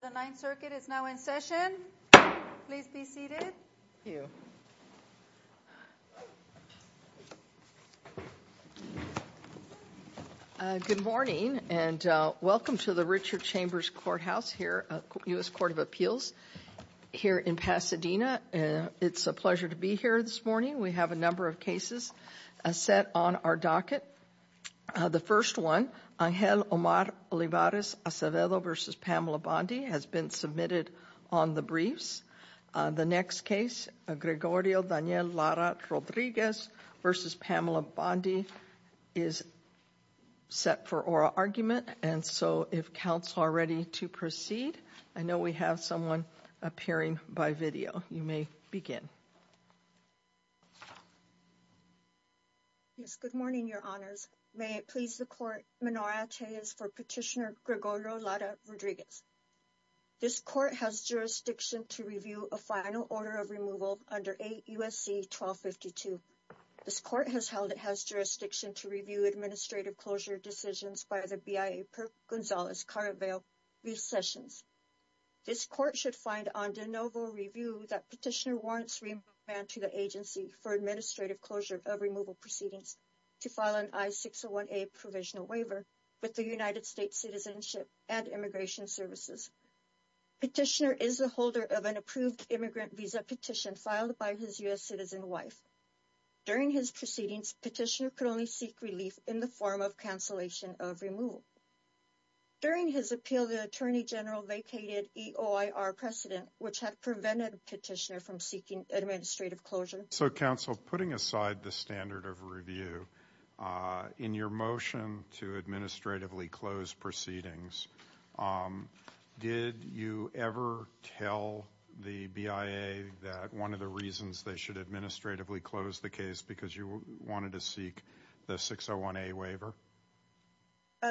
The Ninth Circuit is now in session. Please be seated. Good morning and welcome to the Richard Chambers Courthouse here at the U.S. Court of Appeals here in Pasadena. It's a pleasure to be here this morning. We have a number of cases set on our docket. The first one, Angel Omar Olivares Acevedo v. Pamela Bondi has been submitted on the briefs. The next case, Gregorio Daniel Lara-Rodriguez v. Pamela Bondi is set for oral argument. And so if counsel are ready to proceed, I know we have someone appearing by video. You may begin. Yes, good morning, your honors. May it please the court, Menor Ateas for Petitioner Gregorio Lara-Rodriguez. This court has jurisdiction to review a final order of removal under 8 U.S.C. 1252. This court has held it has jurisdiction to review administrative closure decisions by the BIA per Gonzales Caraveo v. Sessions. This court should find on de novo review that petitioner warrants remand to the agency for administrative closure of removal proceedings to file an I-601A provisional waiver with the United States Citizenship and Immigration Services. Petitioner is the holder of an approved immigrant visa petition filed by his U.S. citizen wife. During his proceedings, petitioner could only seek relief in the form of cancellation of removal. During his appeal, the attorney general vacated EOIR precedent, which had prevented petitioner from seeking administrative closure. So, counsel, putting aside the standard of review in your motion to administratively close proceedings, did you ever tell the BIA that one of the reasons they should administratively close the case because you wanted to seek the 601A waiver?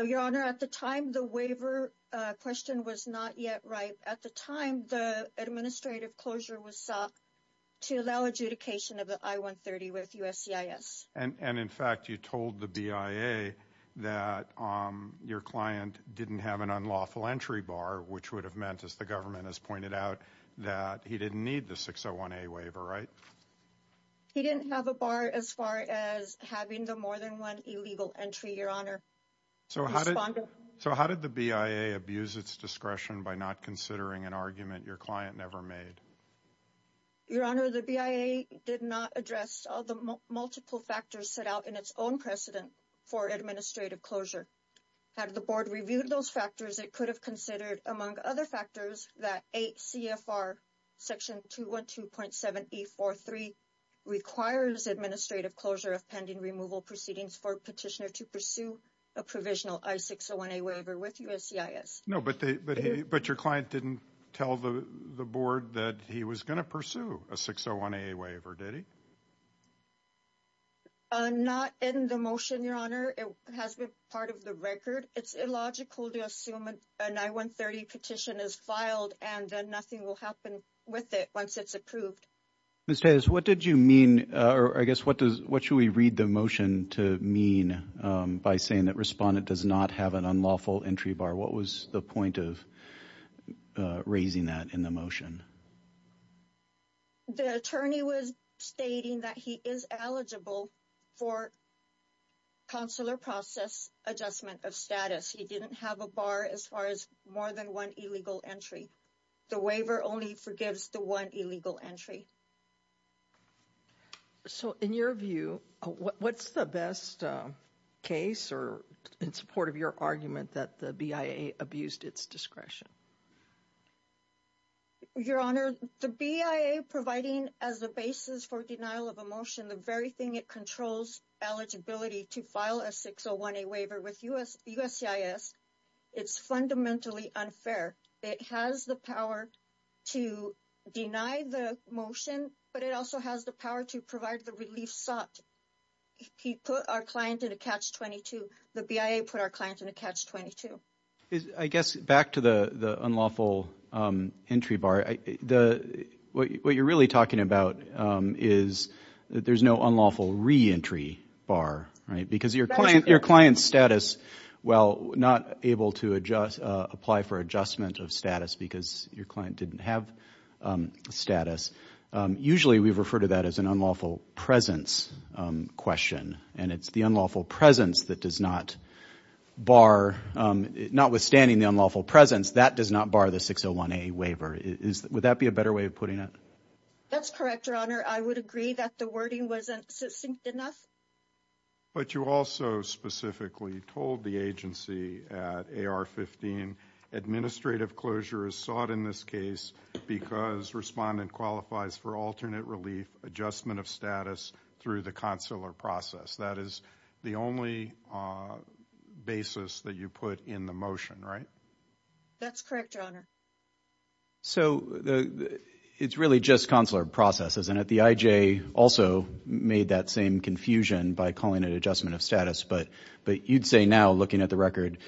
Your Honor, at the time, the waiver question was not yet right. At the time, the administrative closure was sought to allow adjudication of the I-130 with USCIS. And in fact, you told the BIA that your client didn't have an unlawful entry bar, which would have meant, as the government has pointed out, that he didn't need the 601A waiver, right? He didn't have a bar as far as having the more than one illegal entry, Your Honor. So how did the BIA abuse its discretion by not considering an argument your client never made? Your Honor, the BIA did not address all the multiple factors set out in its own precedent for administrative closure. Had the board reviewed those factors, it could have considered, among other factors, that 8 CFR section 212.7E43 requires administrative closure of pending removal proceedings for a petitioner to pursue a provisional I-601A waiver with USCIS. No, but your client didn't tell the board that he was going to pursue a 601A waiver, did he? Not in the motion, Your Honor. It has been part of the record. It's illogical to assume an I-130 petition is filed and then nothing will happen with it once it's approved. Ms. Tejas, what did you mean, or I guess what should we read the motion to mean by saying that respondent does not have an unlawful entry bar? What was the point of raising that in the motion? The attorney was stating that he is eligible for consular process adjustment of status. He didn't have a bar as far as more than one illegal entry. The waiver only forgives the one illegal entry. So in your view, what's the best case or in support of your argument that the BIA abused its discretion? Your Honor, the BIA providing as the basis for denial of a motion the very thing it controls eligibility to file a 601A waiver with USCIS, it's fundamentally unfair. It has the power to deny the motion, but it also has the power to provide the relief sought. He put our client in a catch-22. The BIA put our client in a catch-22. I guess back to the unlawful entry bar, what you're really talking about is that there's no unlawful re-entry bar because your client's status, while not able to apply for adjustment of status because your client didn't have status, usually we refer to that as an unlawful presence question. And it's the unlawful presence that does not bar, notwithstanding the unlawful presence, that does not bar the 601A waiver. Would that be a better way of putting it? That's correct, Your Honor. I would agree that the wording wasn't succinct enough. But you also specifically told the agency at AR-15 administrative closure is sought in this case because respondent qualifies for alternate relief adjustment of status through the consular process. That is the only basis that you put in the motion, right? That's correct, Your Honor. So it's really just consular processes, and the IJ also made that same confusion by calling it adjustment of status. But you'd say now, looking at the record,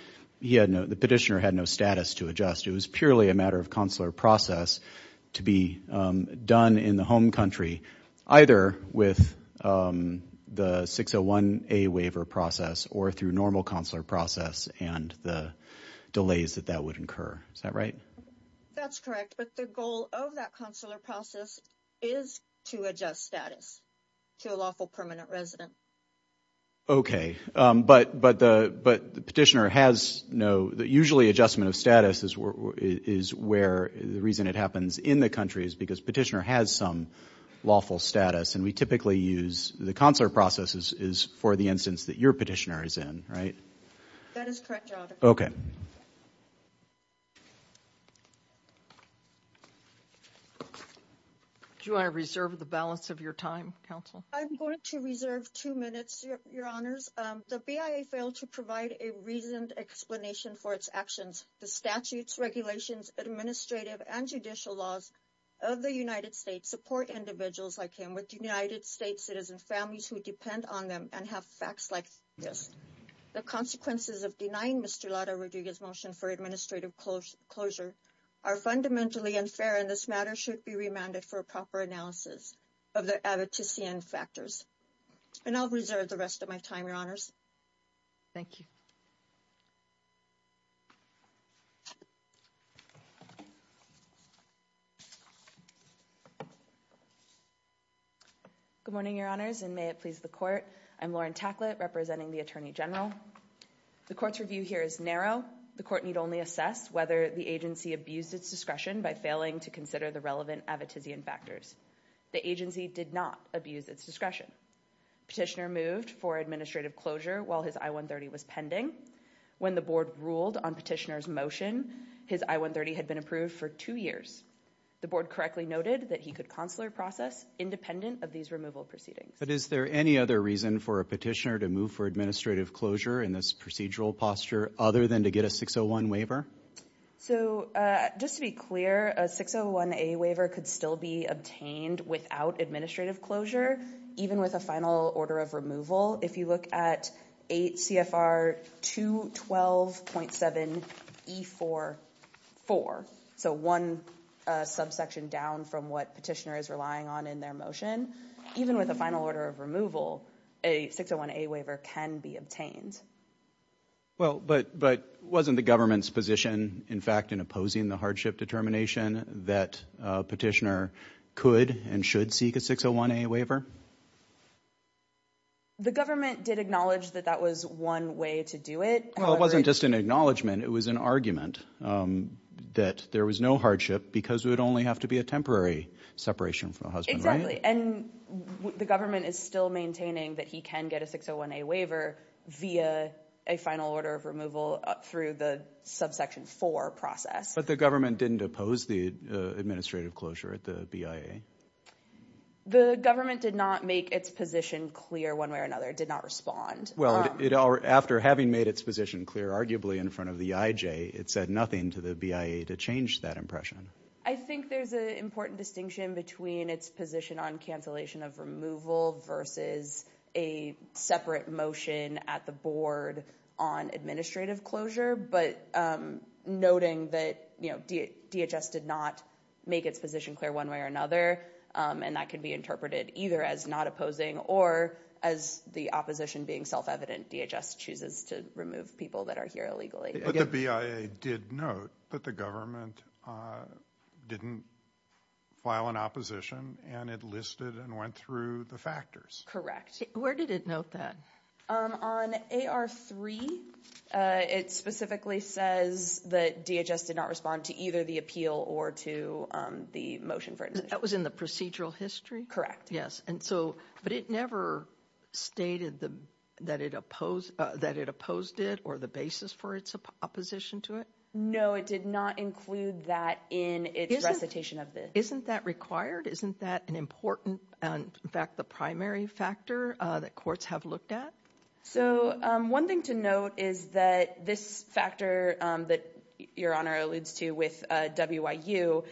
the petitioner had no status to adjust. It was purely a matter of consular process to be done in the home country, either with the 601A waiver process or through normal consular process and the delays that that would incur. Is that right? That's correct. But the goal of that consular process is to adjust status to a lawful permanent resident. Okay. But the petitioner has no—usually adjustment of status is where—the reason it happens in the country is because petitioner has some lawful status. And we typically use—the consular process is for the instance that your petitioner is in, right? That is correct, Your Honor. Okay. Thank you. Do you want to reserve the balance of your time, counsel? I'm going to reserve two minutes, Your Honors. The BIA failed to provide a reasoned explanation for its actions. The statutes, regulations, administrative, and judicial laws of the United States support individuals like him with United States citizen families who depend on them and have facts like this. The consequences of denying Mr. Lara Rodriguez's motion for administrative closure are fundamentally unfair, and this matter should be remanded for a proper analysis of the advocacy and factors. And I'll reserve the rest of my time, Your Honors. Thank you. Good morning, Your Honors, and may it please the court. I'm Lauren Tacklett, representing the Attorney General. The court's review here is narrow. The court need only assess whether the agency abused its discretion by failing to consider the relevant advocacy and factors. The agency did not abuse its discretion. Petitioner moved for administrative closure while his I-130 was pending. When the board ruled on petitioner's motion, his I-130 had been approved for two years. The board correctly noted that he could consular process independent of these removal proceedings. But is there any other reason for a petitioner to move for administrative closure in this procedural posture other than to get a 601 waiver? So just to be clear, a 601A waiver could still be obtained without administrative closure, even with a final order of removal. If you look at 8 CFR 212.7E44, so one subsection down from what petitioner is relying on in their motion, even with a final order of removal, a 601A waiver can be obtained. Well, but wasn't the government's position, in fact, in opposing the hardship determination that petitioner could and should seek a 601A waiver? The government did acknowledge that that was one way to do it. Well, it wasn't just an acknowledgment. It was an argument that there was no hardship because it would only have to be a temporary separation from the husband. Exactly. And the government is still maintaining that he can get a 601A waiver via a final order of removal through the subsection 4 process. But the government didn't oppose the administrative closure at the BIA? The government did not make its position clear one way or another. It did not respond. Well, after having made its position clear, arguably in front of the IJ, it said nothing to the BIA to change that impression. I think there's an important distinction between its position on cancellation of removal versus a separate motion at the board on administrative closure. But noting that DHS did not make its position clear one way or another, and that can be interpreted either as not opposing or as the opposition being self-evident. DHS chooses to remove people that are here illegally. But the BIA did note that the government didn't file an opposition and it listed and went through the factors. Correct. Where did it note that? On AR3, it specifically says that DHS did not respond to either the appeal or to the motion for it. That was in the procedural history? Yes. But it never stated that it opposed it or the basis for its opposition to it? No, it did not include that in its recitation of this. Isn't that required? Isn't that an important, in fact, the primary factor that courts have looked at? So one thing to note is that this factor that Your Honor alludes to with WIU,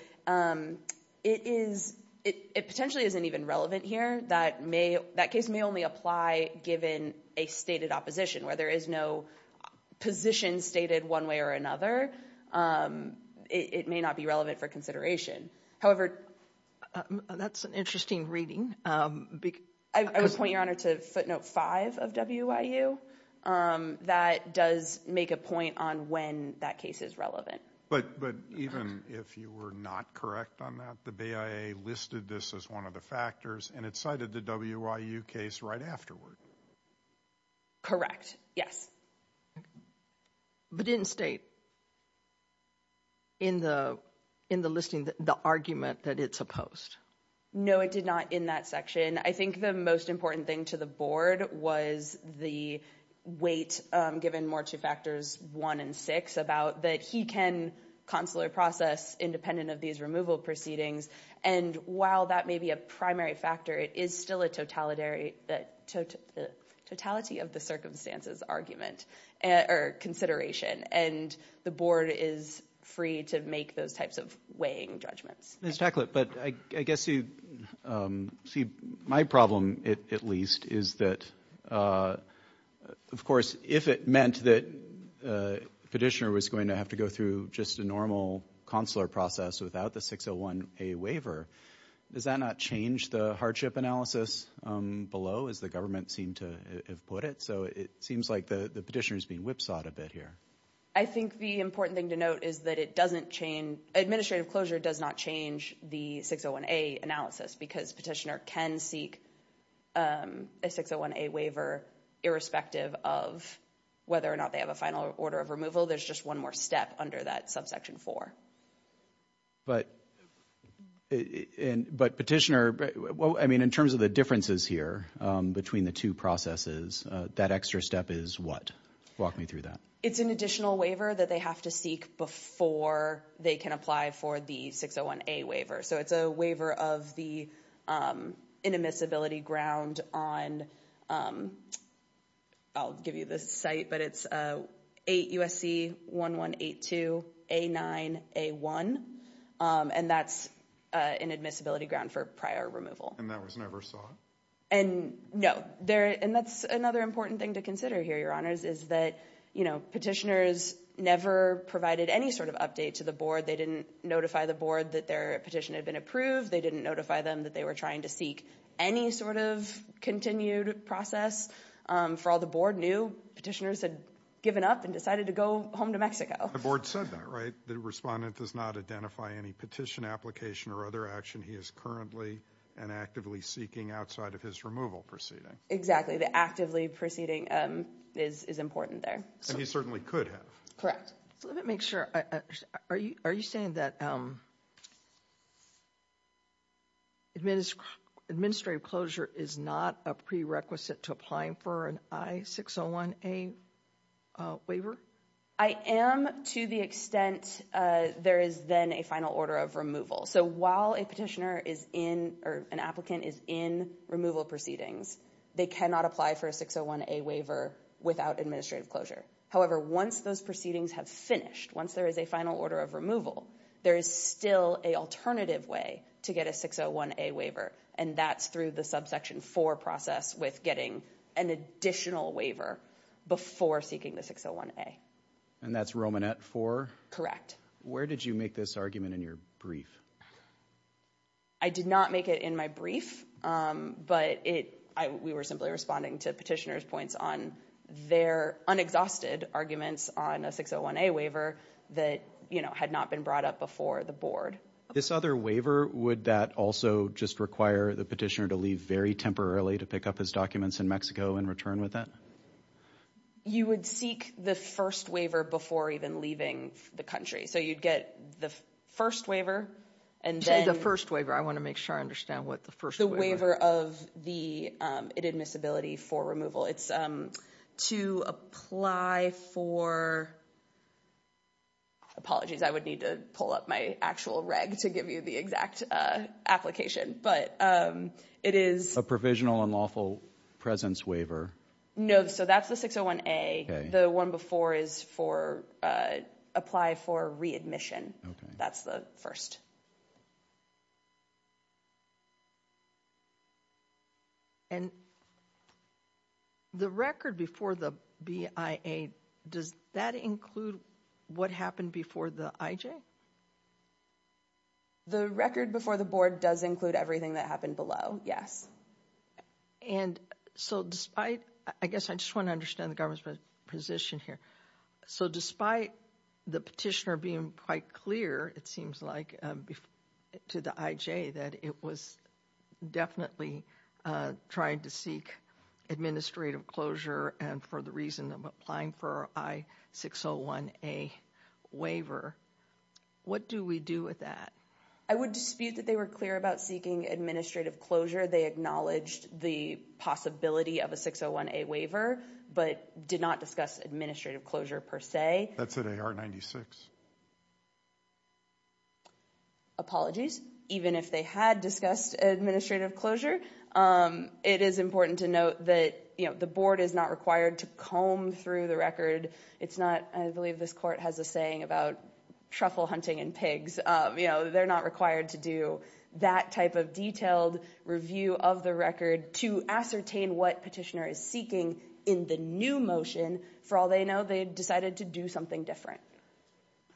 it potentially isn't even relevant here. That case may only apply given a stated opposition where there is no position stated one way or another. It may not be relevant for consideration. However, that's an interesting reading. I would point Your Honor to footnote 5 of WIU. That does make a point on when that case is relevant. But even if you were not correct on that, the BIA listed this as one of the factors and it cited the WIU case right afterward. Correct. Yes. But it didn't state in the listing the argument that it's opposed? No, it did not in that section. I think the most important thing to the Board was the weight given more to factors 1 and 6 about that he can consular process independent of these removal proceedings. And while that may be a primary factor, it is still a totality of the circumstances argument or consideration. And the Board is free to make those types of weighing judgments. Ms. Tacklett, but I guess you see my problem at least is that, of course, if it meant that the petitioner was going to have to go through just a normal consular process without the 601A waiver, does that not change the hardship analysis below as the government seemed to have put it? So it seems like the petitioner is being whipsawed a bit here. I think the important thing to note is that it doesn't change. Administrative closure does not change the 601A analysis because petitioner can seek a 601A waiver irrespective of whether or not they have a final order of removal. There's just one more step under that subsection 4. But petitioner, I mean, in terms of the differences here between the two processes, that extra step is what? Walk me through that. It's an additional waiver that they have to seek before they can apply for the 601A waiver. So it's a waiver of the inadmissibility ground on, I'll give you the site, but it's 8 USC 1182 A9 A1. And that's inadmissibility ground for prior removal. And that was never sought? And no. And that's another important thing to consider here, Your Honors, is that, you know, petitioners never provided any sort of update to the board. They didn't notify the board that their petition had been approved. They didn't notify them that they were trying to seek any sort of continued process for all the board knew petitioners had given up and decided to go home to Mexico. The board said that, right? The respondent does not identify any petition application or other action. He is currently and actively seeking outside of his removal proceeding. Exactly. The actively proceeding is important there. He certainly could have. Correct. Let me make sure. Are you saying that administrative closure is not a prerequisite to applying for an I-601A waiver? I am to the extent there is then a final order of removal. So while a petitioner is in or an applicant is in removal proceedings, they cannot apply for a 601A waiver without administrative closure. However, once those proceedings have finished, once there is a final order of removal, there is still a alternative way to get a 601A waiver. And that's through the subsection 4 process with getting an additional waiver before seeking the 601A. And that's Romanet 4? Correct. Where did you make this argument in your brief? I did not make it in my brief, but we were simply responding to petitioners' points on their unexhausted arguments on a 601A waiver that, you know, had not been brought up before the board. This other waiver, would that also just require the petitioner to leave very temporarily to pick up his documents in Mexico and return with that? You would seek the first waiver before even leaving the country. So you'd get the first waiver, and then— Say the first waiver. I want to make sure I understand what the first waiver— The waiver of the admissibility for removal. It's to apply for—apologies, I would need to pull up my actual reg to give you the exact application, but it is— A provisional unlawful presence waiver. No, so that's the 601A. The one before is for—apply for readmission. That's the first. And the record before the BIA, does that include what happened before the IJ? The record before the board does include everything that happened below, yes. And so despite—I guess I just want to understand the government's position here. So despite the petitioner being quite clear, it seems like, to the IJ that it was definitely trying to seek administrative closure and for the reason of applying for I-601A waiver, what do we do with that? I would dispute that they were clear about seeking administrative closure. They acknowledged the possibility of a 601A waiver, but did not discuss administrative closure per se. That's at AR-96. Apologies. Even if they had discussed administrative closure, it is important to note that the board is not required to comb through the record. It's not—I believe this court has a saying about truffle hunting and pigs. They're not required to do that type of detailed review of the record to ascertain what petitioner is seeking in the new motion. For all they know, they decided to do something different.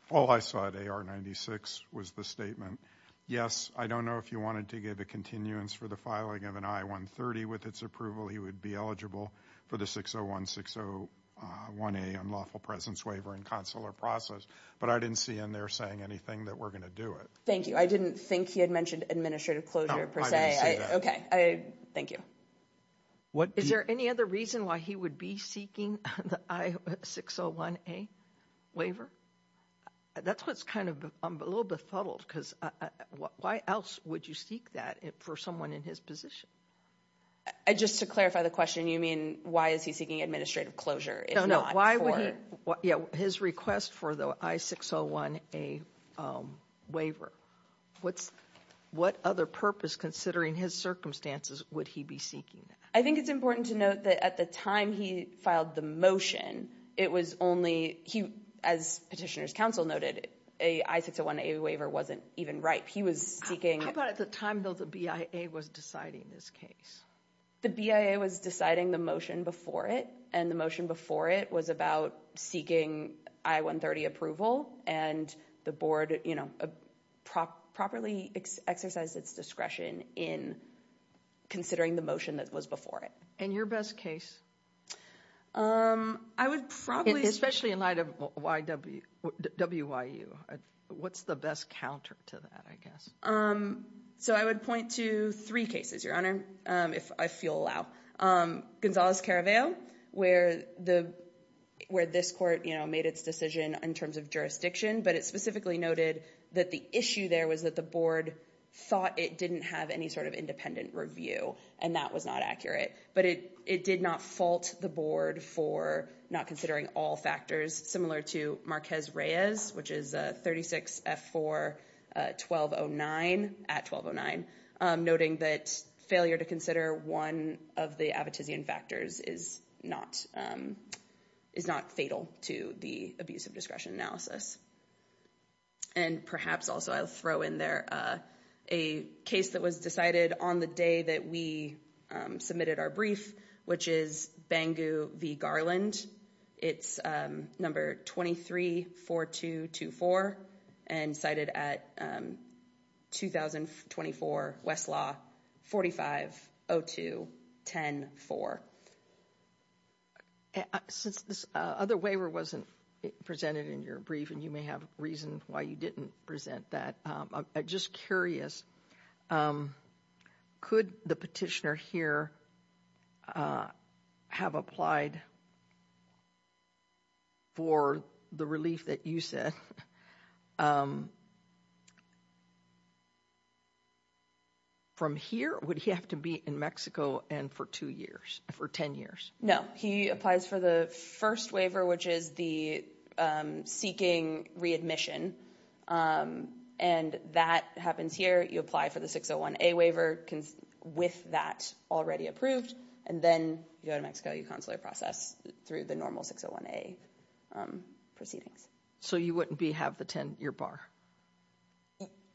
All I saw at AR-96 was the statement, yes, I don't know if you wanted to give a continuance for the filing of an I-130 with its approval. He would be eligible for the 601-601A unlawful presence waiver in consular process, but I didn't see in there saying anything that we're going to do it. Thank you. I didn't think he had mentioned administrative closure per se. Thank you. Is there any other reason why he would be seeking the I-601A waiver? That's what's kind of a little befuddled because why else would you seek that for someone in his position? Just to clarify the question, you mean why is he seeking administrative closure if not for— His request for the I-601A waiver. What other purpose, considering his circumstances, would he be seeking that? I think it's important to note that at the time he filed the motion, it was only—as Petitioner's Counsel noted, an I-601A waiver wasn't even ripe. He was seeking— How about at the time, though, the BIA was deciding this case? The BIA was deciding the motion before it, and the motion before it was about seeking I-130 approval, and the board properly exercised its discretion in considering the motion that was before it. And your best case? I would probably— Especially in light of WIU. What's the best counter to that, I guess? So I would point to three cases, Your Honor, if I feel allow. Gonzales-Caraveo, where this court made its decision in terms of jurisdiction, but it specifically noted that the issue there was that the board thought it didn't have any sort of independent review, and that was not accurate. But it did not fault the board for not considering all factors, similar to Marquez-Reyes, which is 36F4-1209, at 1209, noting that failure to consider one of the Abbottizian factors is not fatal to the abuse of discretion analysis. And perhaps also I'll throw in there a case that was decided on the day that we submitted our brief, which is Bangu v. Garland. It's number 23-4224 and cited at 2024 Westlaw 4502-10-4. Since this other waiver wasn't presented in your brief, and you may have reason why you didn't present that, I'm just curious, could the petitioner here have applied for the relief that you said? From here, would he have to be in Mexico for 10 years? No. He applies for the first waiver, which is the seeking readmission, and that happens here. You apply for the 601A waiver with that already approved, and then you go to Mexico. You consular process through the normal 601A proceedings. So you wouldn't have the 10-year bar?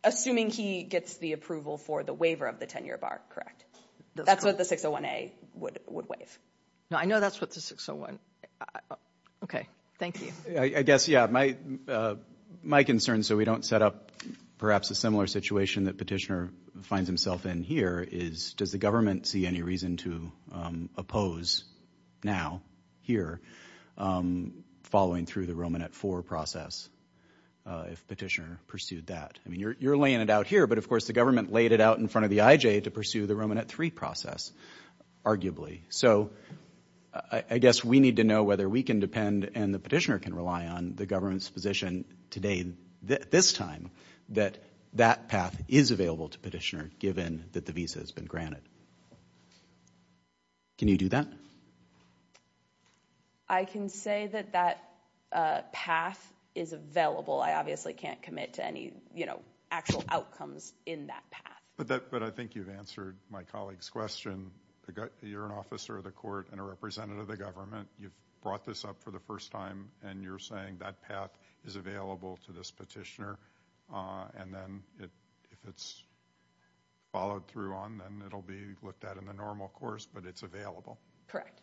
Assuming he gets the approval for the waiver of the 10-year bar, correct? That's what the 601A would waive. No, I know that's what the 601... Okay, thank you. I guess, yeah, my concern, so we don't set up perhaps a similar situation that petitioner finds himself in here, is does the government see any reason to oppose now, here, following through the Romanet IV process if petitioner pursued that? I mean, you're laying it out here, but of course the government laid it out in front of the IJ to pursue the Romanet III process, arguably. So I guess we need to know whether we can depend and the petitioner can rely on the government's position today, this time, that that path is available to petitioner given that the visa has been granted. Can you do that? I can say that that path is available. I obviously can't commit to any actual outcomes in that path. But I think you've answered my colleague's question. You're an officer of the court and a representative of the government. You've brought this up for the first time, and you're saying that path is available to this petitioner, and then if it's followed through on, then it'll be looked at in the normal course, but it's available. Correct.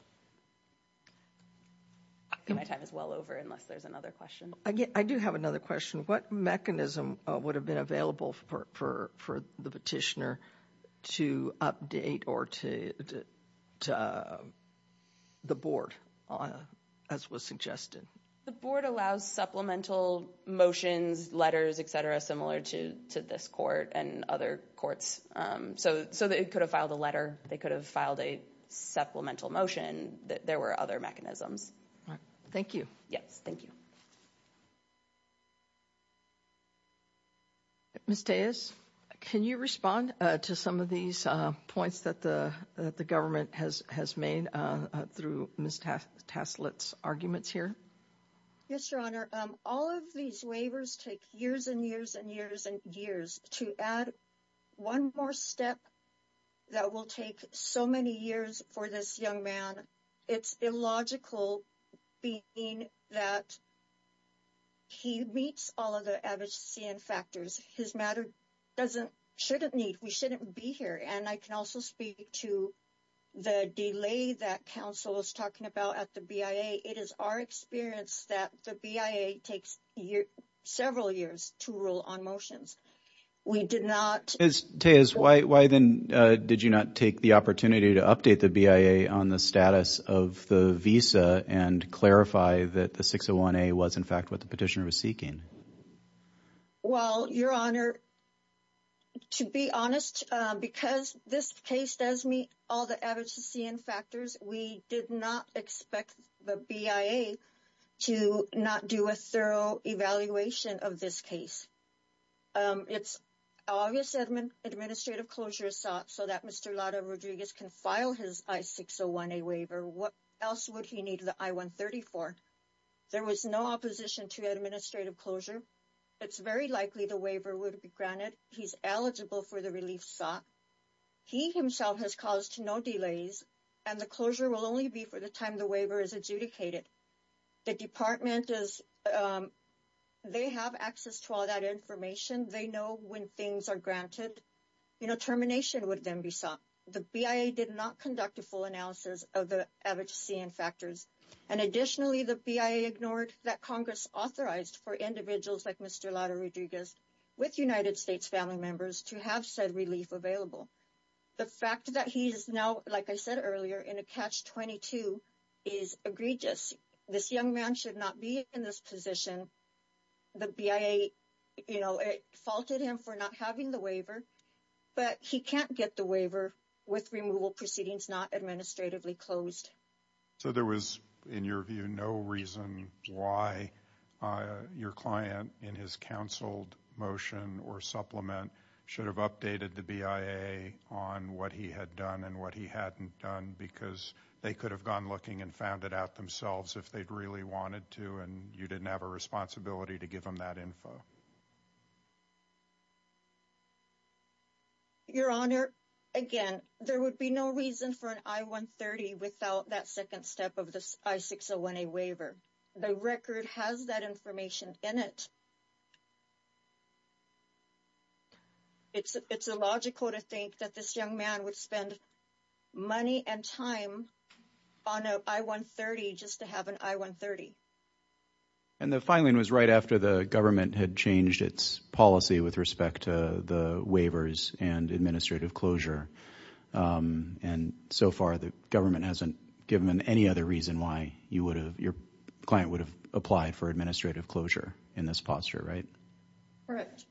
My time is well over unless there's another question. I do have another question. What mechanism would have been available for the petitioner to update or to the board, as was suggested? The board allows supplemental motions, letters, etc., similar to this court and other courts. So they could have filed a letter. They could have filed a supplemental motion. There were other mechanisms. Thank you. Yes, thank you. Ms. Tejas, can you respond to some of these points that the government has made through Ms. Taslitz's arguments here? Yes, Your Honor. All of these waivers take years and years and years and years. To add one more step that will take so many years for this young man, it's illogical being that he meets all of the advocacy and factors. His matter doesn't – shouldn't meet. We shouldn't be here. And I can also speak to the delay that counsel is talking about at the BIA. It is our experience that the BIA takes several years to rule on motions. We did not – Ms. Tejas, why then did you not take the opportunity to update the BIA on the status of the visa and clarify that the 601A was, in fact, what the petitioner was seeking? Well, Your Honor, to be honest, because this case does meet all the advocacy and factors, we did not expect the BIA to not do a thorough evaluation of this case. It's obvious that administrative closure is sought so that Mr. Lado Rodriguez can file his I-601A waiver. What else would he need the I-134? There was no opposition to administrative closure. It's very likely the waiver would be granted. He's eligible for the relief sought. He himself has caused no delays, and the closure will only be for the time the waiver is adjudicated. The department is – they have access to all that information. They know when things are granted. You know, termination would then be sought. The BIA did not conduct a full analysis of the advocacy and factors. And additionally, the BIA ignored that Congress authorized for individuals like Mr. Lado Rodriguez with United States family members to have said relief available. The fact that he is now, like I said earlier, in a catch-22 is egregious. This young man should not be in this position. The BIA, you know, it faulted him for not having the waiver, but he can't get the waiver with removal proceedings not administratively closed. So there was, in your view, no reason why your client in his counseled motion or supplement should have updated the BIA on what he had done and what he hadn't done because they could have gone looking and found it out themselves if they'd really wanted to, and you didn't have a responsibility to give them that info. Your Honor, again, there would be no reason for an I-130 without that second step of the I-601A waiver. The record has that information in it. It's illogical to think that this young man would spend money and time on an I-130 just to have an I-130. And the filing was right after the government had changed its policy with respect to the waivers and administrative closure. And so far, the government hasn't given them any other reason why your client would have applied for administrative closure in this posture, right? Correct.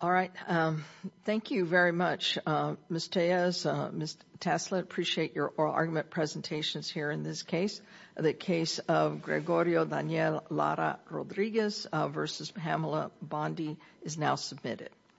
All right. Thank you very much, Ms. Tejas. Ms. Tasla, I appreciate your oral argument presentations here in this case. The case of Gregorio Daniel Lara Rodriguez v. Pamela Bondi is now submitted.